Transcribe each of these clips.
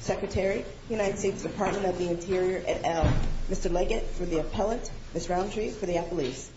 Secretary, United States Department of the Interior, et al. Mr. Leggett for the appellant, Ms. Roundtree for the appellees.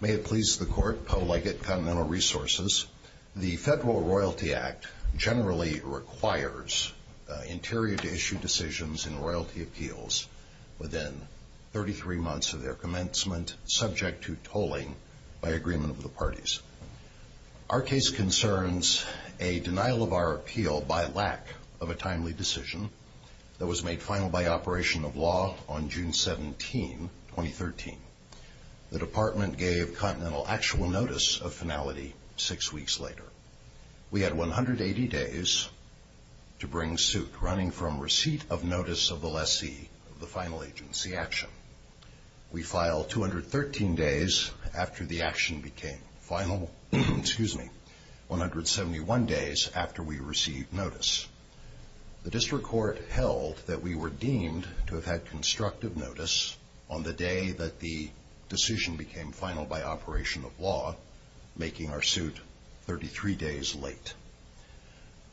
May it please the Court, Poe Leggett, Continental Resources. The Federal Royalty Act generally requires the Interior to issue decisions in royalty appeals. Within 33 months of their commencement, subject to tolling by agreement of the parties. Our case concerns a denial of our appeal by lack of a timely decision that was made final by operation of law on June 17, 2013. The Department gave Continental actual notice of finality six weeks later. We had 180 days to bring suit, running from receipt of notice of the lessee of the final agency action. We filed 213 days after the action became final, 171 days after we received notice. The District Court held that we were deemed to have had constructive notice on the day that the decision became final by operation of law, making our suit 33 days late.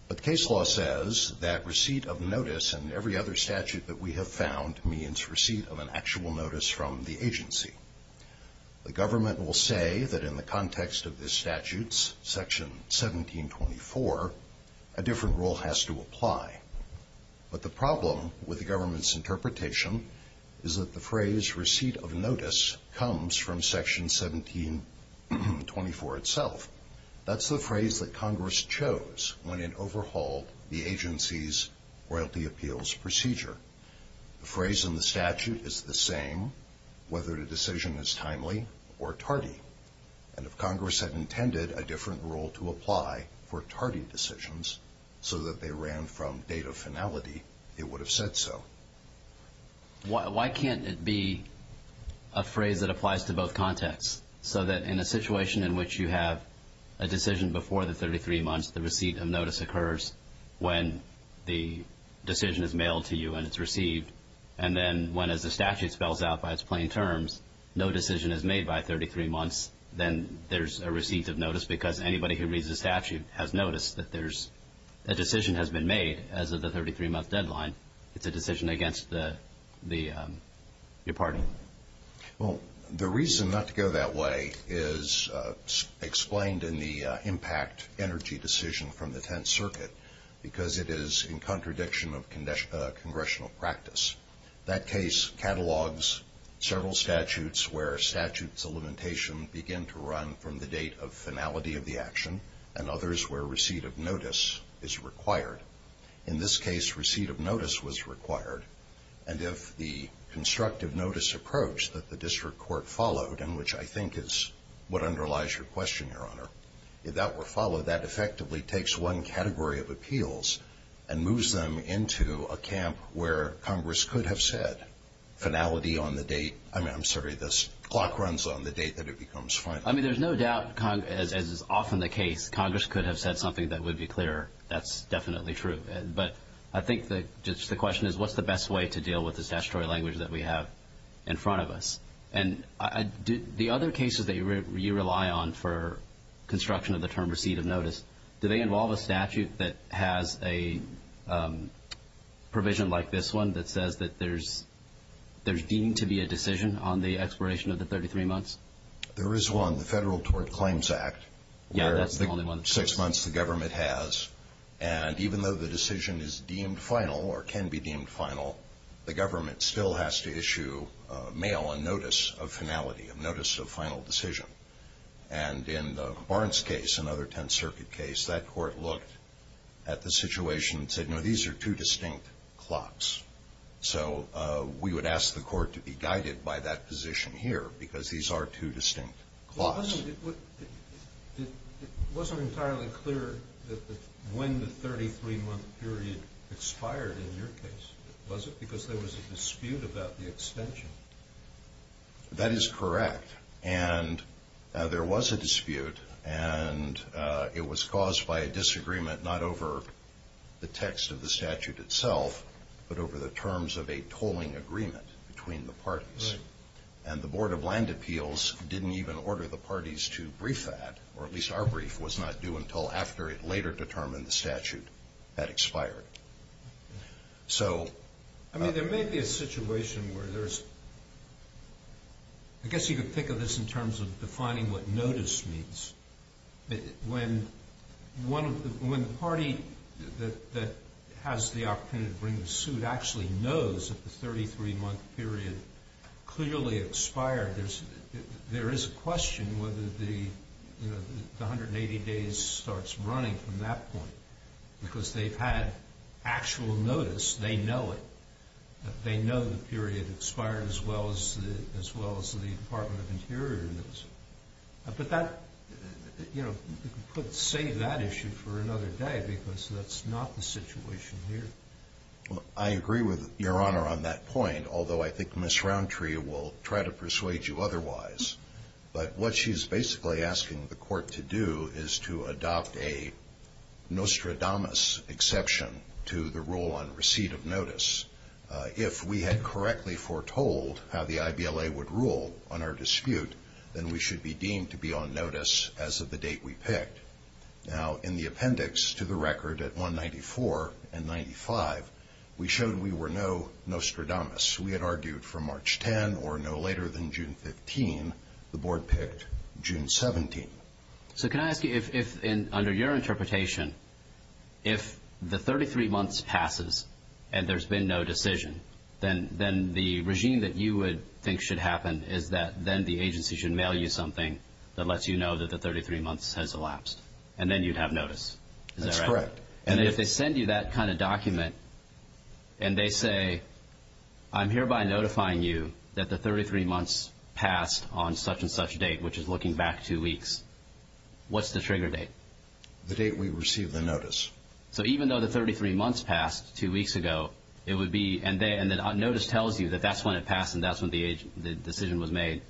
But case law says that receipt of notice in every other statute that we have found means receipt of an actual notice from the agency. The government will say that in the context of the statutes, section 1724, a different rule has to apply. But the problem with the government's interpretation is that the phrase receipt of notice comes from section 1724 itself. That's the phrase that Congress chose when it overhauled the agency's royalty appeals procedure. The phrase in the statute is the same whether the decision is timely or tardy. And if Congress had intended a different rule to apply for tardy decisions so that they ran from date of finality, it would have said so. Why can't it be a phrase that applies to both contexts so that in a situation in which you have a decision before the 33 months, the receipt of notice occurs when the decision is mailed to you and it's received, and then when, as the statute spells out by its plain terms, no decision is made by 33 months, then there's a receipt of notice because anybody who reads the statute has noticed that there's a decision has been made as of the 33-month deadline. It's a decision against your party. Well, the reason not to go that way is explained in the impact energy decision from the Tenth Circuit because it is in contradiction of congressional practice. That case catalogs several statutes where a statute's elimination began to run from the date of finality of the action and others where receipt of notice is required. In this case, receipt of notice was required. And if the constructive notice approach that the district court followed, and which I think is what underlies your question, Your Honor, if that were followed, that effectively takes one category of appeals and moves them into a camp where Congress could have said finality on the date. I mean, I'm sorry, the clock runs on the date that it becomes final. I mean, there's no doubt, as is often the case, Congress could have said something that would be clearer. That's definitely true. But I think just the question is what's the best way to deal with the statutory language that we have in front of us? And the other cases that you rely on for construction of the term receipt of notice, do they involve a statute that has a provision like this one that says that there's deemed to be a decision on the expiration of the 33 months? There is one, the Federal Tort Claims Act. Yeah, that's the only one. Six months the government has. And even though the decision is deemed final or can be deemed final, the government still has to issue mail, a notice of finality, a notice of final decision. And in Barnes' case, another Tenth Circuit case, that court looked at the situation and said, no, these are two distinct clocks. So we would ask the court to be guided by that position here because these are two distinct clocks. It wasn't entirely clear when the 33-month period expired in your case, was it? Because there was a dispute about the extension. That is correct. And there was a dispute, and it was caused by a disagreement not over the text of the statute itself, but over the terms of a tolling agreement between the parties. Right. And the Board of Land Appeals didn't even order the parties to brief that, or at least our brief was not due until after it later determined the statute had expired. So – I mean, there may be a situation where there's – I guess you could think of this in terms of defining what notice means. When the party that has the opportunity to bring the suit actually knows that the 33-month period clearly expired, there is a question whether the 180 days starts running from that point because they've had actual notice. They know it. They know the period expired as well as the Department of Interior knows. But that, you know, could save that issue for another day because that's not the situation here. Well, I agree with Your Honor on that point, although I think Ms. Roundtree will try to persuade you otherwise. But what she's basically asking the court to do is to adopt a nostradamus exception to the rule on receipt of notice. If we had correctly foretold how the IBLA would rule on our dispute, then we should be deemed to be on notice as of the date we picked. Now, in the appendix to the record at 194 and 95, we showed we were no nostradamus. We had argued from March 10 or no later than June 15. The Board picked June 17. So can I ask you if, under your interpretation, if the 33 months passes and there's been no decision, then the regime that you would think should happen is that then the agency should mail you something that lets you know that the 33 months has elapsed, and then you'd have notice. Is that right? That's correct. And if they send you that kind of document and they say, I'm hereby notifying you that the 33 months passed on such-and-such date, which is looking back two weeks, what's the trigger date? The date we received the notice. So even though the 33 months passed two weeks ago, it would be, and then notice tells you that that's when it passed and that's when the decision was made,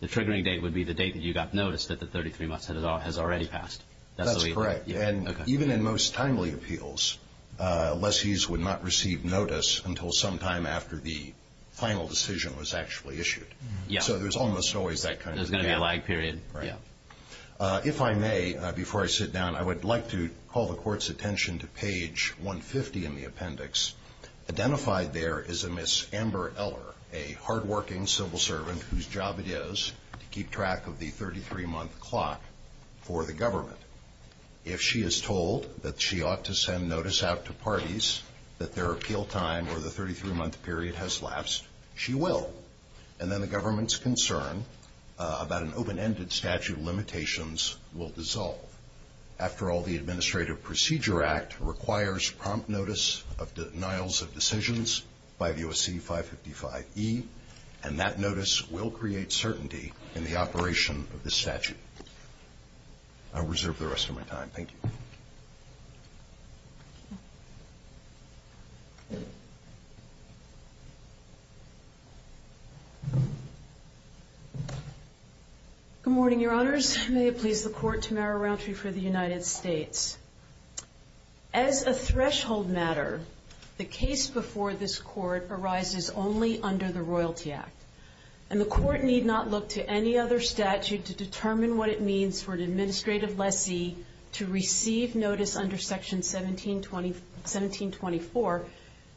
the triggering date would be the date that you got notice that the 33 months has already passed. That's correct. And even in most timely appeals, lessees would not receive notice until sometime after the final decision was actually issued. So there's almost always that kind of delay. There's going to be a lag period. If I may, before I sit down, I would like to call the Court's attention to page 150 in the appendix. Identified there is a Miss Amber Eller, a hardworking civil servant whose job it is to keep track of the 33-month clock for the government. If she is told that she ought to send notice out to parties that their appeal time or the 33-month period has lapsed, she will. And then the government's concern about an open-ended statute of limitations will dissolve. After all, the Administrative Procedure Act requires prompt notice of denials of decisions by the OSC 555E, and that notice will create certainty in the operation of this statute. I'll reserve the rest of my time. Thank you. Good morning, Your Honors. May it please the Court to narrow roundtree for the United States. As a threshold matter, the case before this Court arises only under the Royalty Act, and the Court need not look to any other statute to determine what it means for an administrative lessee to receive notice under Section 1724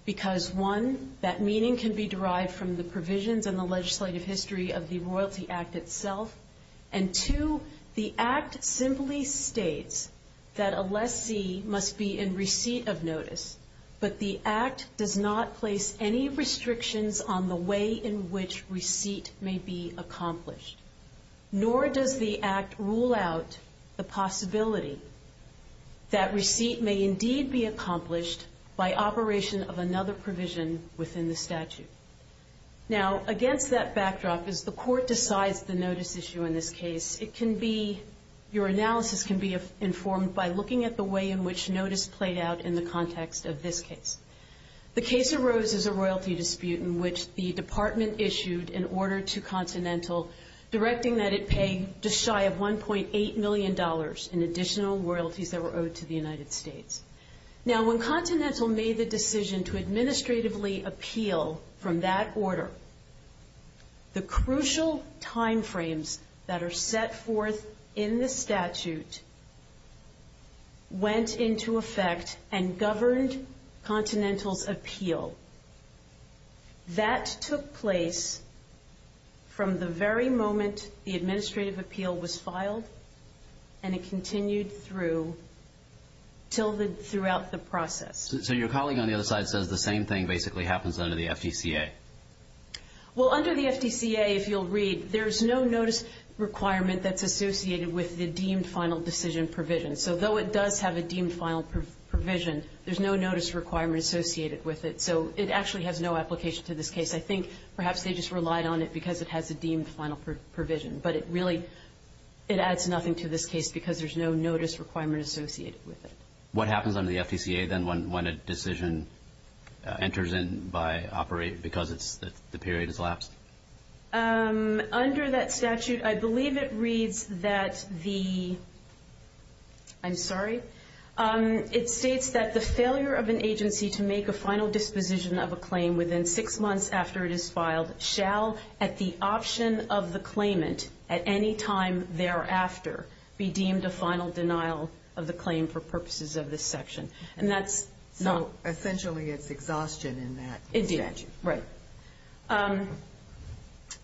because, one, that meaning can be derived from the provisions in the legislative history of the Royalty Act itself, and, two, the Act simply states that a lessee must be in receipt of notice, but the Act does not place any restrictions on the way in which receipt may be accomplished. Nor does the Act rule out the possibility that receipt may indeed be accomplished by operation of another provision within the statute. Now, against that backdrop, as the Court decides the notice issue in this case, your analysis can be informed by looking at the way in which notice played out in the context of this case. The case arose as a royalty dispute in which the Department issued an order to Continental directing that it pay just shy of $1.8 million in additional royalties that were owed to the United States. Now, when Continental made the decision to administratively appeal from that order, the crucial time frames that are set forth in the statute went into effect and governed Continental's appeal. That took place from the very moment the administrative appeal was filed, and it continued through throughout the process. So your colleague on the other side says the same thing basically happens under the FDCA. Well, under the FDCA, if you'll read, there's no notice requirement that's associated with the deemed final decision provision. So though it does have a deemed final provision, there's no notice requirement associated with it. So it actually has no application to this case. I think perhaps they just relied on it because it has a deemed final provision, but it really adds nothing to this case because there's no notice requirement associated with it. What happens under the FDCA then when a decision enters in by operator because the period is lapsed? Under that statute, I believe it reads that the ‑‑ I'm sorry. It states that the failure of an agency to make a final disposition of a claim within six months after it is filed shall at the option of the claimant at any time thereafter be deemed a final denial of the claim for purposes of this section. And that's not ‑‑ So essentially it's exhaustion in that statute. Indeed. Right.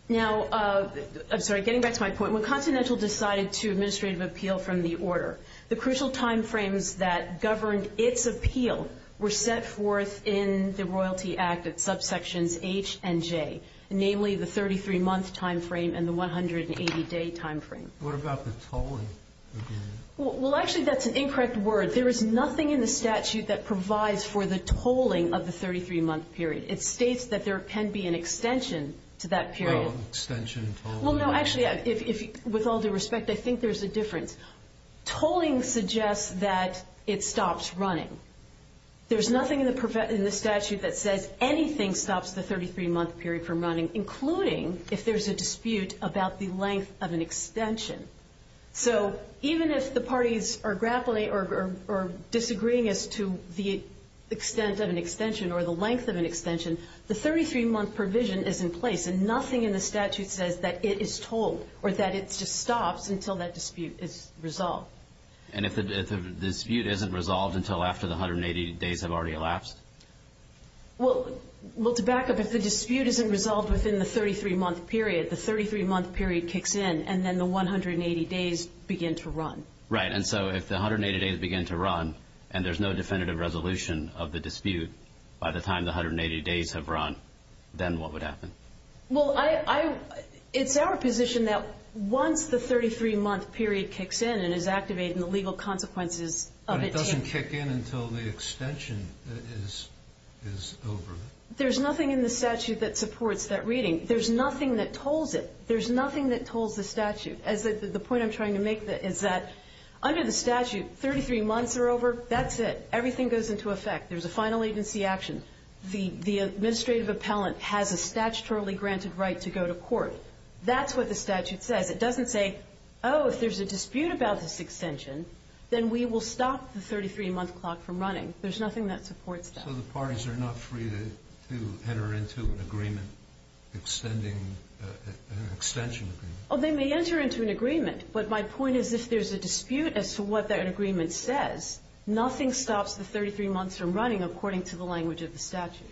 Now, I'm sorry. Getting back to my point, when Continental decided to administrative appeal from the order, the crucial time frames that governed its appeal were set forth in the royalty act at subsections H and J, namely the 33‑month time frame and the 180‑day time frame. What about the tolling? Well, actually, that's an incorrect word. There is nothing in the statute that provides for the tolling of the 33‑month period. It states that there can be an extension to that period. Oh, extension, tolling. Well, no, actually, with all due respect, I think there's a difference. Tolling suggests that it stops running. There's nothing in the statute that says anything stops the 33‑month period from running, including if there's a dispute about the length of an extension. So even if the parties are grappling or disagreeing as to the extent of an extension or the length of an extension, the 33‑month provision is in place, and nothing in the statute says that it is tolled or that it just stops until that dispute is resolved. And if the dispute isn't resolved until after the 180 days have already elapsed? Well, to back up, if the dispute isn't resolved within the 33‑month period, the 33‑month period kicks in, and then the 180 days begin to run. Right, and so if the 180 days begin to run and there's no definitive resolution of the dispute by the time the 180 days have run, then what would happen? Well, it's our position that once the 33‑month period kicks in and is activated and the legal consequences of it tick. But it doesn't kick in until the extension is over. There's nothing in the statute that supports that reading. There's nothing that tolls it. There's nothing that tolls the statute. The point I'm trying to make is that under the statute, 33 months are over. That's it. Everything goes into effect. There's a final agency action. The administrative appellant has a statutorily granted right to go to court. That's what the statute says. It doesn't say, oh, if there's a dispute about this extension, then we will stop the 33‑month clock from running. There's nothing that supports that. So the parties are not free to enter into an agreement extending an extension agreement? Oh, they may enter into an agreement, but my point is if there's a dispute as to what that agreement says, nothing stops the 33 months from running according to the language of the statute.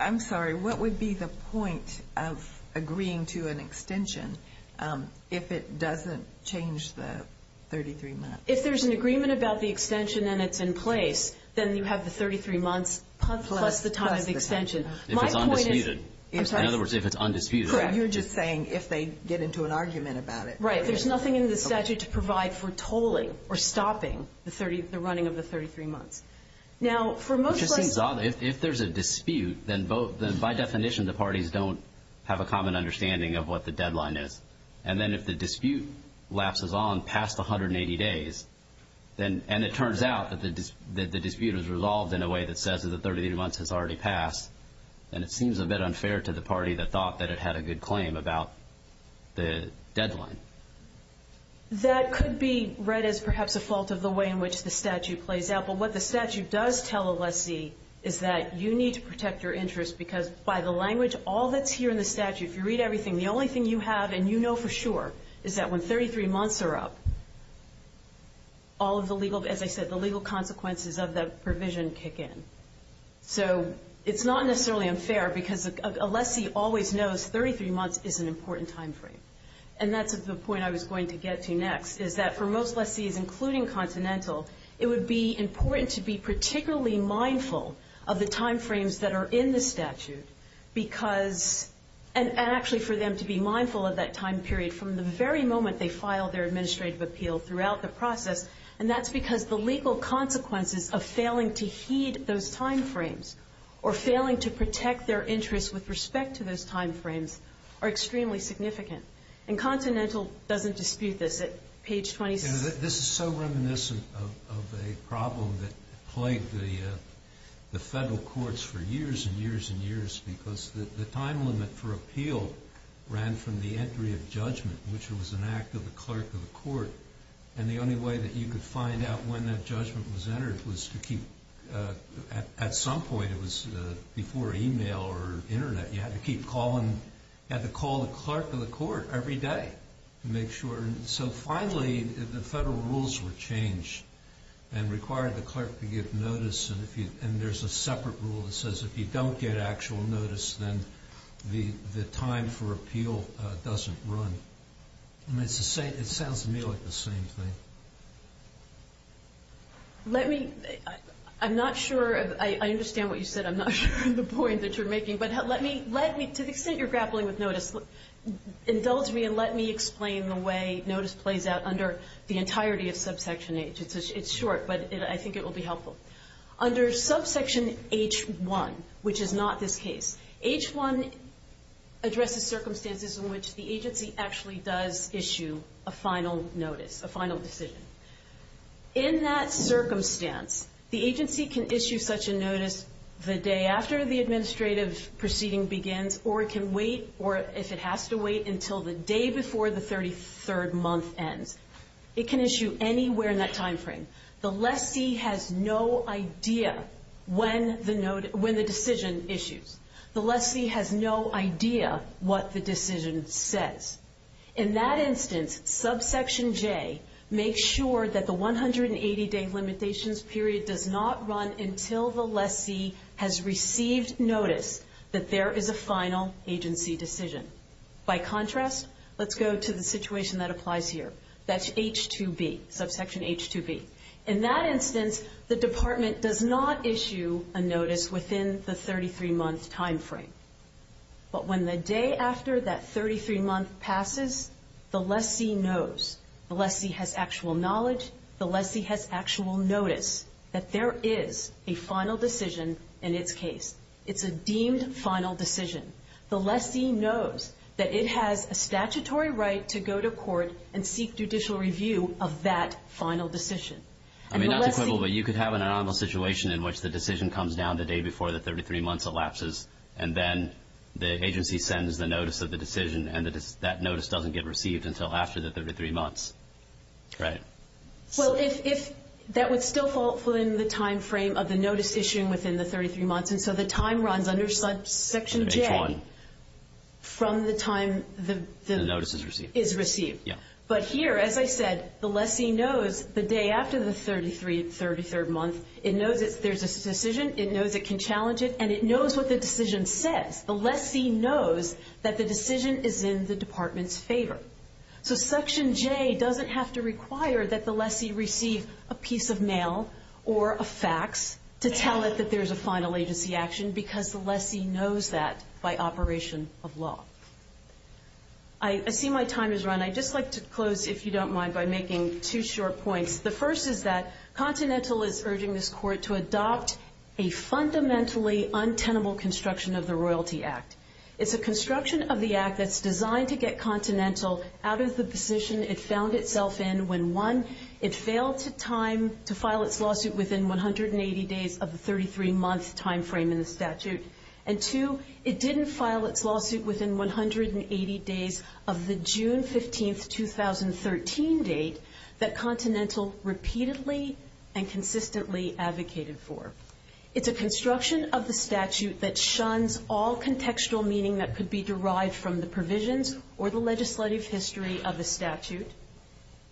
I'm sorry. What would be the point of agreeing to an extension if it doesn't change the 33 months? If there's an agreement about the extension and it's in place, then you have the 33 months plus the time of the extension. If it's undisputed. In other words, if it's undisputed. You're just saying if they get into an argument about it. Right. There's nothing in the statute to provide for tolling or stopping the running of the 33 months. Now, for most ‑‑ It just seems odd. If there's a dispute, then by definition the parties don't have a common understanding of what the deadline is. And then if the dispute lapses on past 180 days, and it turns out that the dispute is resolved in a way that says that the 33 months has already passed, then it seems a bit unfair to the party that thought that it had a good claim about the deadline. That could be read as perhaps a fault of the way in which the statute plays out. But what the statute does tell a lessee is that you need to protect your interests because by the language, all that's here in the statute, if you read everything, the only thing you have and you know for sure is that when 33 months are up, all of the legal, as I said, the legal consequences of the provision kick in. So it's not necessarily unfair because a lessee always knows 33 months is an important time frame. And that's the point I was going to get to next is that for most lessees, including continental, it would be important to be particularly mindful of the time frames that are in the statute because ‑‑ and actually for them to be mindful of that time period from the very moment they file their administrative appeal throughout the process. And that's because the legal consequences of failing to heed those time frames or failing to protect their interests with respect to those time frames are extremely significant. And continental doesn't dispute this at page 26. This is so reminiscent of a problem that plagued the federal courts for years and years and years because the time limit for appeal ran from the entry of judgment, which was an act of the clerk of the court. And the only way that you could find out when that judgment was entered was to keep ‑‑ at some point it was before email or internet. You had to keep calling ‑‑ you had to call the clerk of the court every day to make sure. And so finally the federal rules were changed and required the clerk to give notice. And there's a separate rule that says if you don't get actual notice, then the time for appeal doesn't run. And it sounds to me like the same thing. Let me ‑‑ I'm not sure ‑‑ I understand what you said. I'm not sure the point that you're making. But let me ‑‑ to the extent you're grappling with notice, indulge me and let me explain the way notice plays out under the entirety of subsection H. It's short, but I think it will be helpful. Under subsection H.1, which is not this case, H.1 addresses circumstances in which the agency actually does issue a final notice, a final decision. In that circumstance, the agency can issue such a notice the day after the administrative proceeding begins or it can wait, or if it has to wait, until the day before the 33rd month ends. It can issue anywhere in that time frame. The lessee has no idea when the decision issues. The lessee has no idea what the decision says. In that instance, subsection J makes sure that the 180-day limitations period does not run until the lessee has received notice that there is a final agency decision. By contrast, let's go to the situation that applies here. That's H.2B, subsection H.2B. In that instance, the department does not issue a notice within the 33‑month time frame. But when the day after that 33‑month passes, the lessee knows. The lessee has actual knowledge. The lessee has actual notice that there is a final decision in its case. It's a deemed final decision. The lessee knows that it has a statutory right to go to court and seek judicial review of that final decision. I mean, not to quibble, but you could have an anomalous situation in which the decision comes down the day before the 33 months elapses and then the agency sends the notice of the decision and that notice doesn't get received until after the 33 months, right? Well, that would still fall within the time frame of the notice issued within the 33 months, and so the time runs under section J from the time the notice is received. But here, as I said, the lessee knows the day after the 33‑month. It knows there's a decision. It knows it can challenge it, and it knows what the decision says. The lessee knows that the decision is in the department's favor. So section J doesn't have to require that the lessee receive a piece of mail or a fax to tell it that there's a final agency action because the lessee knows that by operation of law. I see my time has run. I'd just like to close, if you don't mind, by making two short points. The first is that Continental is urging this court to adopt a fundamentally untenable construction of the Royalty Act. It's a construction of the act that's designed to get Continental out of the position it found itself in when, one, it failed to file its lawsuit within 180 days of the 33‑month time frame in the statute, and, two, it didn't file its lawsuit within 180 days of the June 15, 2013 date that Continental repeatedly and consistently advocated for. It's a construction of the statute that shuns all contextual meaning that could be derived from the provisions or the legislative history of the statute,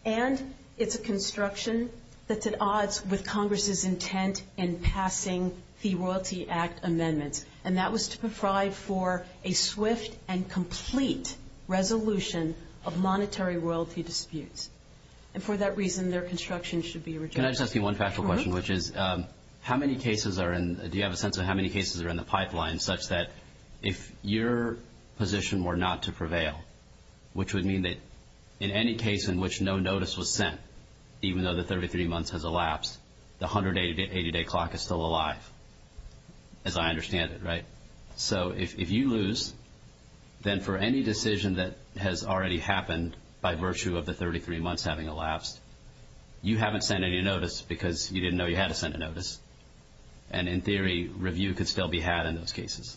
and it's a construction that's at odds with Congress's intent in passing the Royalty Act amendments, and that was to provide for a swift and complete resolution of monetary royalty disputes. And for that reason, their construction should be rejected. Can I just ask you one factual question, which is how many cases are in ‑‑ do you have a sense of how many cases are in the pipeline such that if your position were not to prevail, which would mean that in any case in which no notice was sent, even though the 33 months has elapsed, the 180‑day clock is still alive, as I understand it, right? So if you lose, then for any decision that has already happened by virtue of the 33 months having elapsed, you haven't sent any notice because you didn't know you had to send a notice, and, in theory, review could still be had in those cases,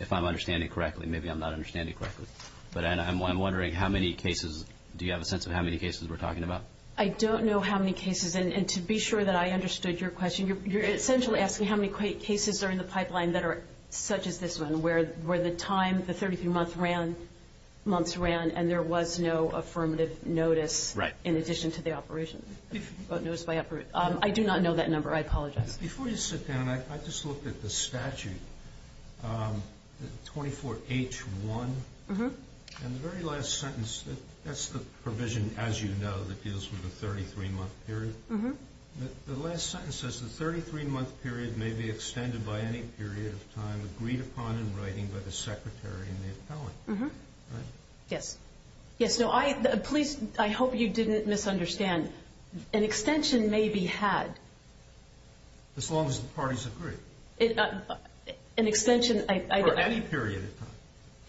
if I'm understanding correctly. Maybe I'm not understanding correctly. But, Anna, I'm wondering how many cases ‑‑ do you have a sense of how many cases we're talking about? I don't know how many cases. And to be sure that I understood your question, you're essentially asking how many cases are in the pipeline that are such as this one, where the time, the 33 months ran, and there was no affirmative notice in addition to the operation. I do not know that number. I apologize. Before you sit down, I just looked at the statute, 24H1. And the very last sentence, that's the provision, as you know, that deals with the 33‑month period. The last sentence says the 33‑month period may be extended by any period of time agreed upon in writing by the secretary and the appellant, right? Yes. Yes. No, please, I hope you didn't misunderstand. An extension may be had. As long as the parties agree. An extension ‑‑ For any period of time.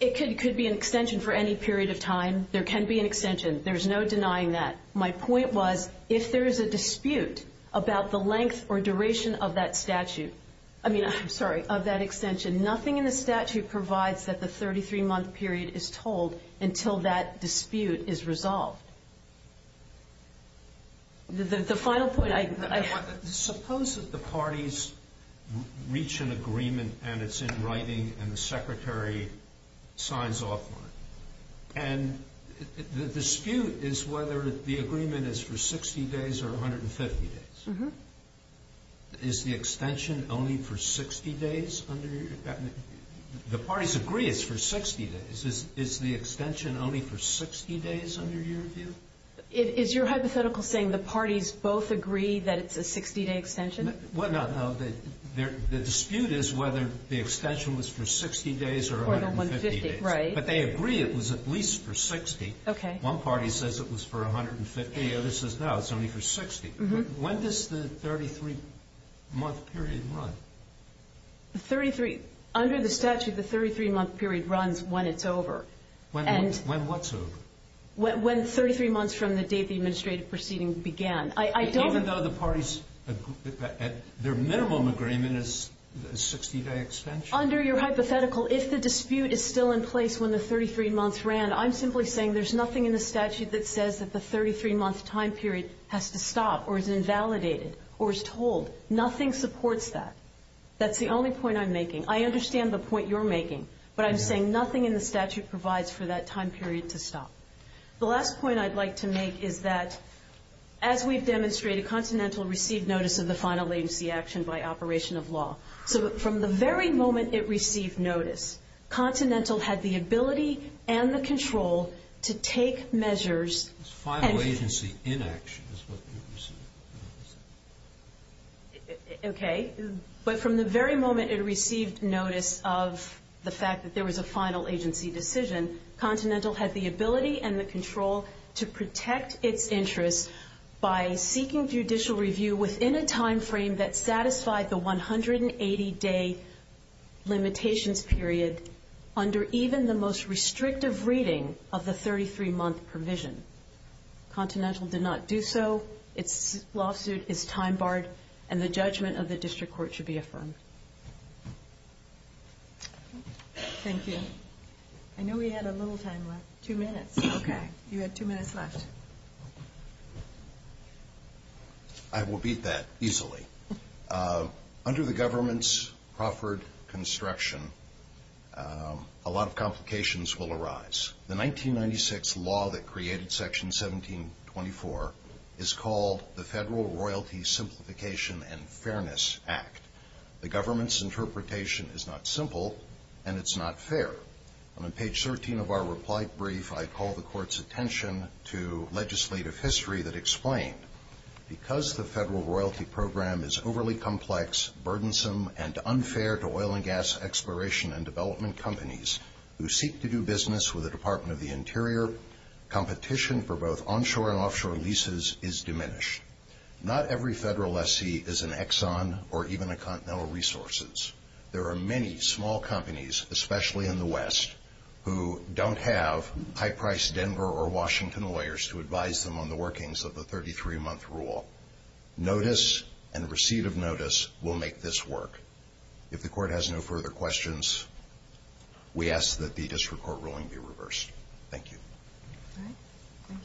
It could be an extension for any period of time. There can be an extension. There's no denying that. My point was, if there is a dispute about the length or duration of that statute, I mean, I'm sorry, of that extension, nothing in the statute provides that the 33‑month period is told until that dispute is resolved. The final point, I ‑‑ Suppose that the parties reach an agreement and it's in writing and the secretary signs off on it. And the dispute is whether the agreement is for 60 days or 150 days. Is the extension only for 60 days under your view? The parties agree it's for 60 days. Is the extension only for 60 days under your view? Is your hypothetical saying the parties both agree that it's a 60‑day extension? Well, no, no. The dispute is whether the extension was for 60 days or 150 days. Right. But they agree it was at least for 60. Okay. One party says it was for 150. The other says no, it's only for 60. When does the 33‑month period run? The 33 ‑‑ under the statute, the 33‑month period runs when it's over. When what's over? When 33 months from the date the administrative proceeding began. Even though the parties, their minimum agreement is a 60‑day extension? Under your hypothetical, if the dispute is still in place when the 33 months ran, I'm simply saying there's nothing in the statute that says that the 33‑month time period has to stop or is invalidated or is told. Nothing supports that. That's the only point I'm making. I understand the point you're making. But I'm saying nothing in the statute provides for that time period to stop. The last point I'd like to make is that, as we've demonstrated, Continental received notice of the final latency action by operation of law. So from the very moment it received notice, Continental had the ability and the control to take measures. Final agency inaction is what you're saying. Okay. But from the very moment it received notice of the fact that there was a final agency decision, Continental had the ability and the control to protect its interests by seeking judicial review within a time frame that satisfied the 180‑day limitations period under even the most restrictive reading of the 33‑month provision. Continental did not do so. Its lawsuit is time barred, and the judgment of the district court should be affirmed. Thank you. I know we had a little time left. Two minutes. Okay. You had two minutes left. I will beat that easily. Under the government's proffered construction, a lot of complications will arise. The 1996 law that created Section 1724 is called the Federal Royalty Simplification and Fairness Act. The government's interpretation is not simple, and it's not fair. On page 13 of our reply brief, I call the court's attention to legislative history that explained because the federal royalty program is overly complex, burdensome, and unfair to oil and gas exploration and development companies who seek to do business with the Department of the Interior, competition for both onshore and offshore leases is diminished. Not every federal lessee is an Exxon or even a Continental Resources. There are many small companies, especially in the West, who don't have high-priced Denver or Washington lawyers to advise them on the workings of the 33-month rule. Notice and receipt of notice will make this work. If the court has no further questions, we ask that the district court ruling be reversed. Thank you. Thank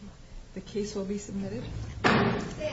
you. The case will be submitted.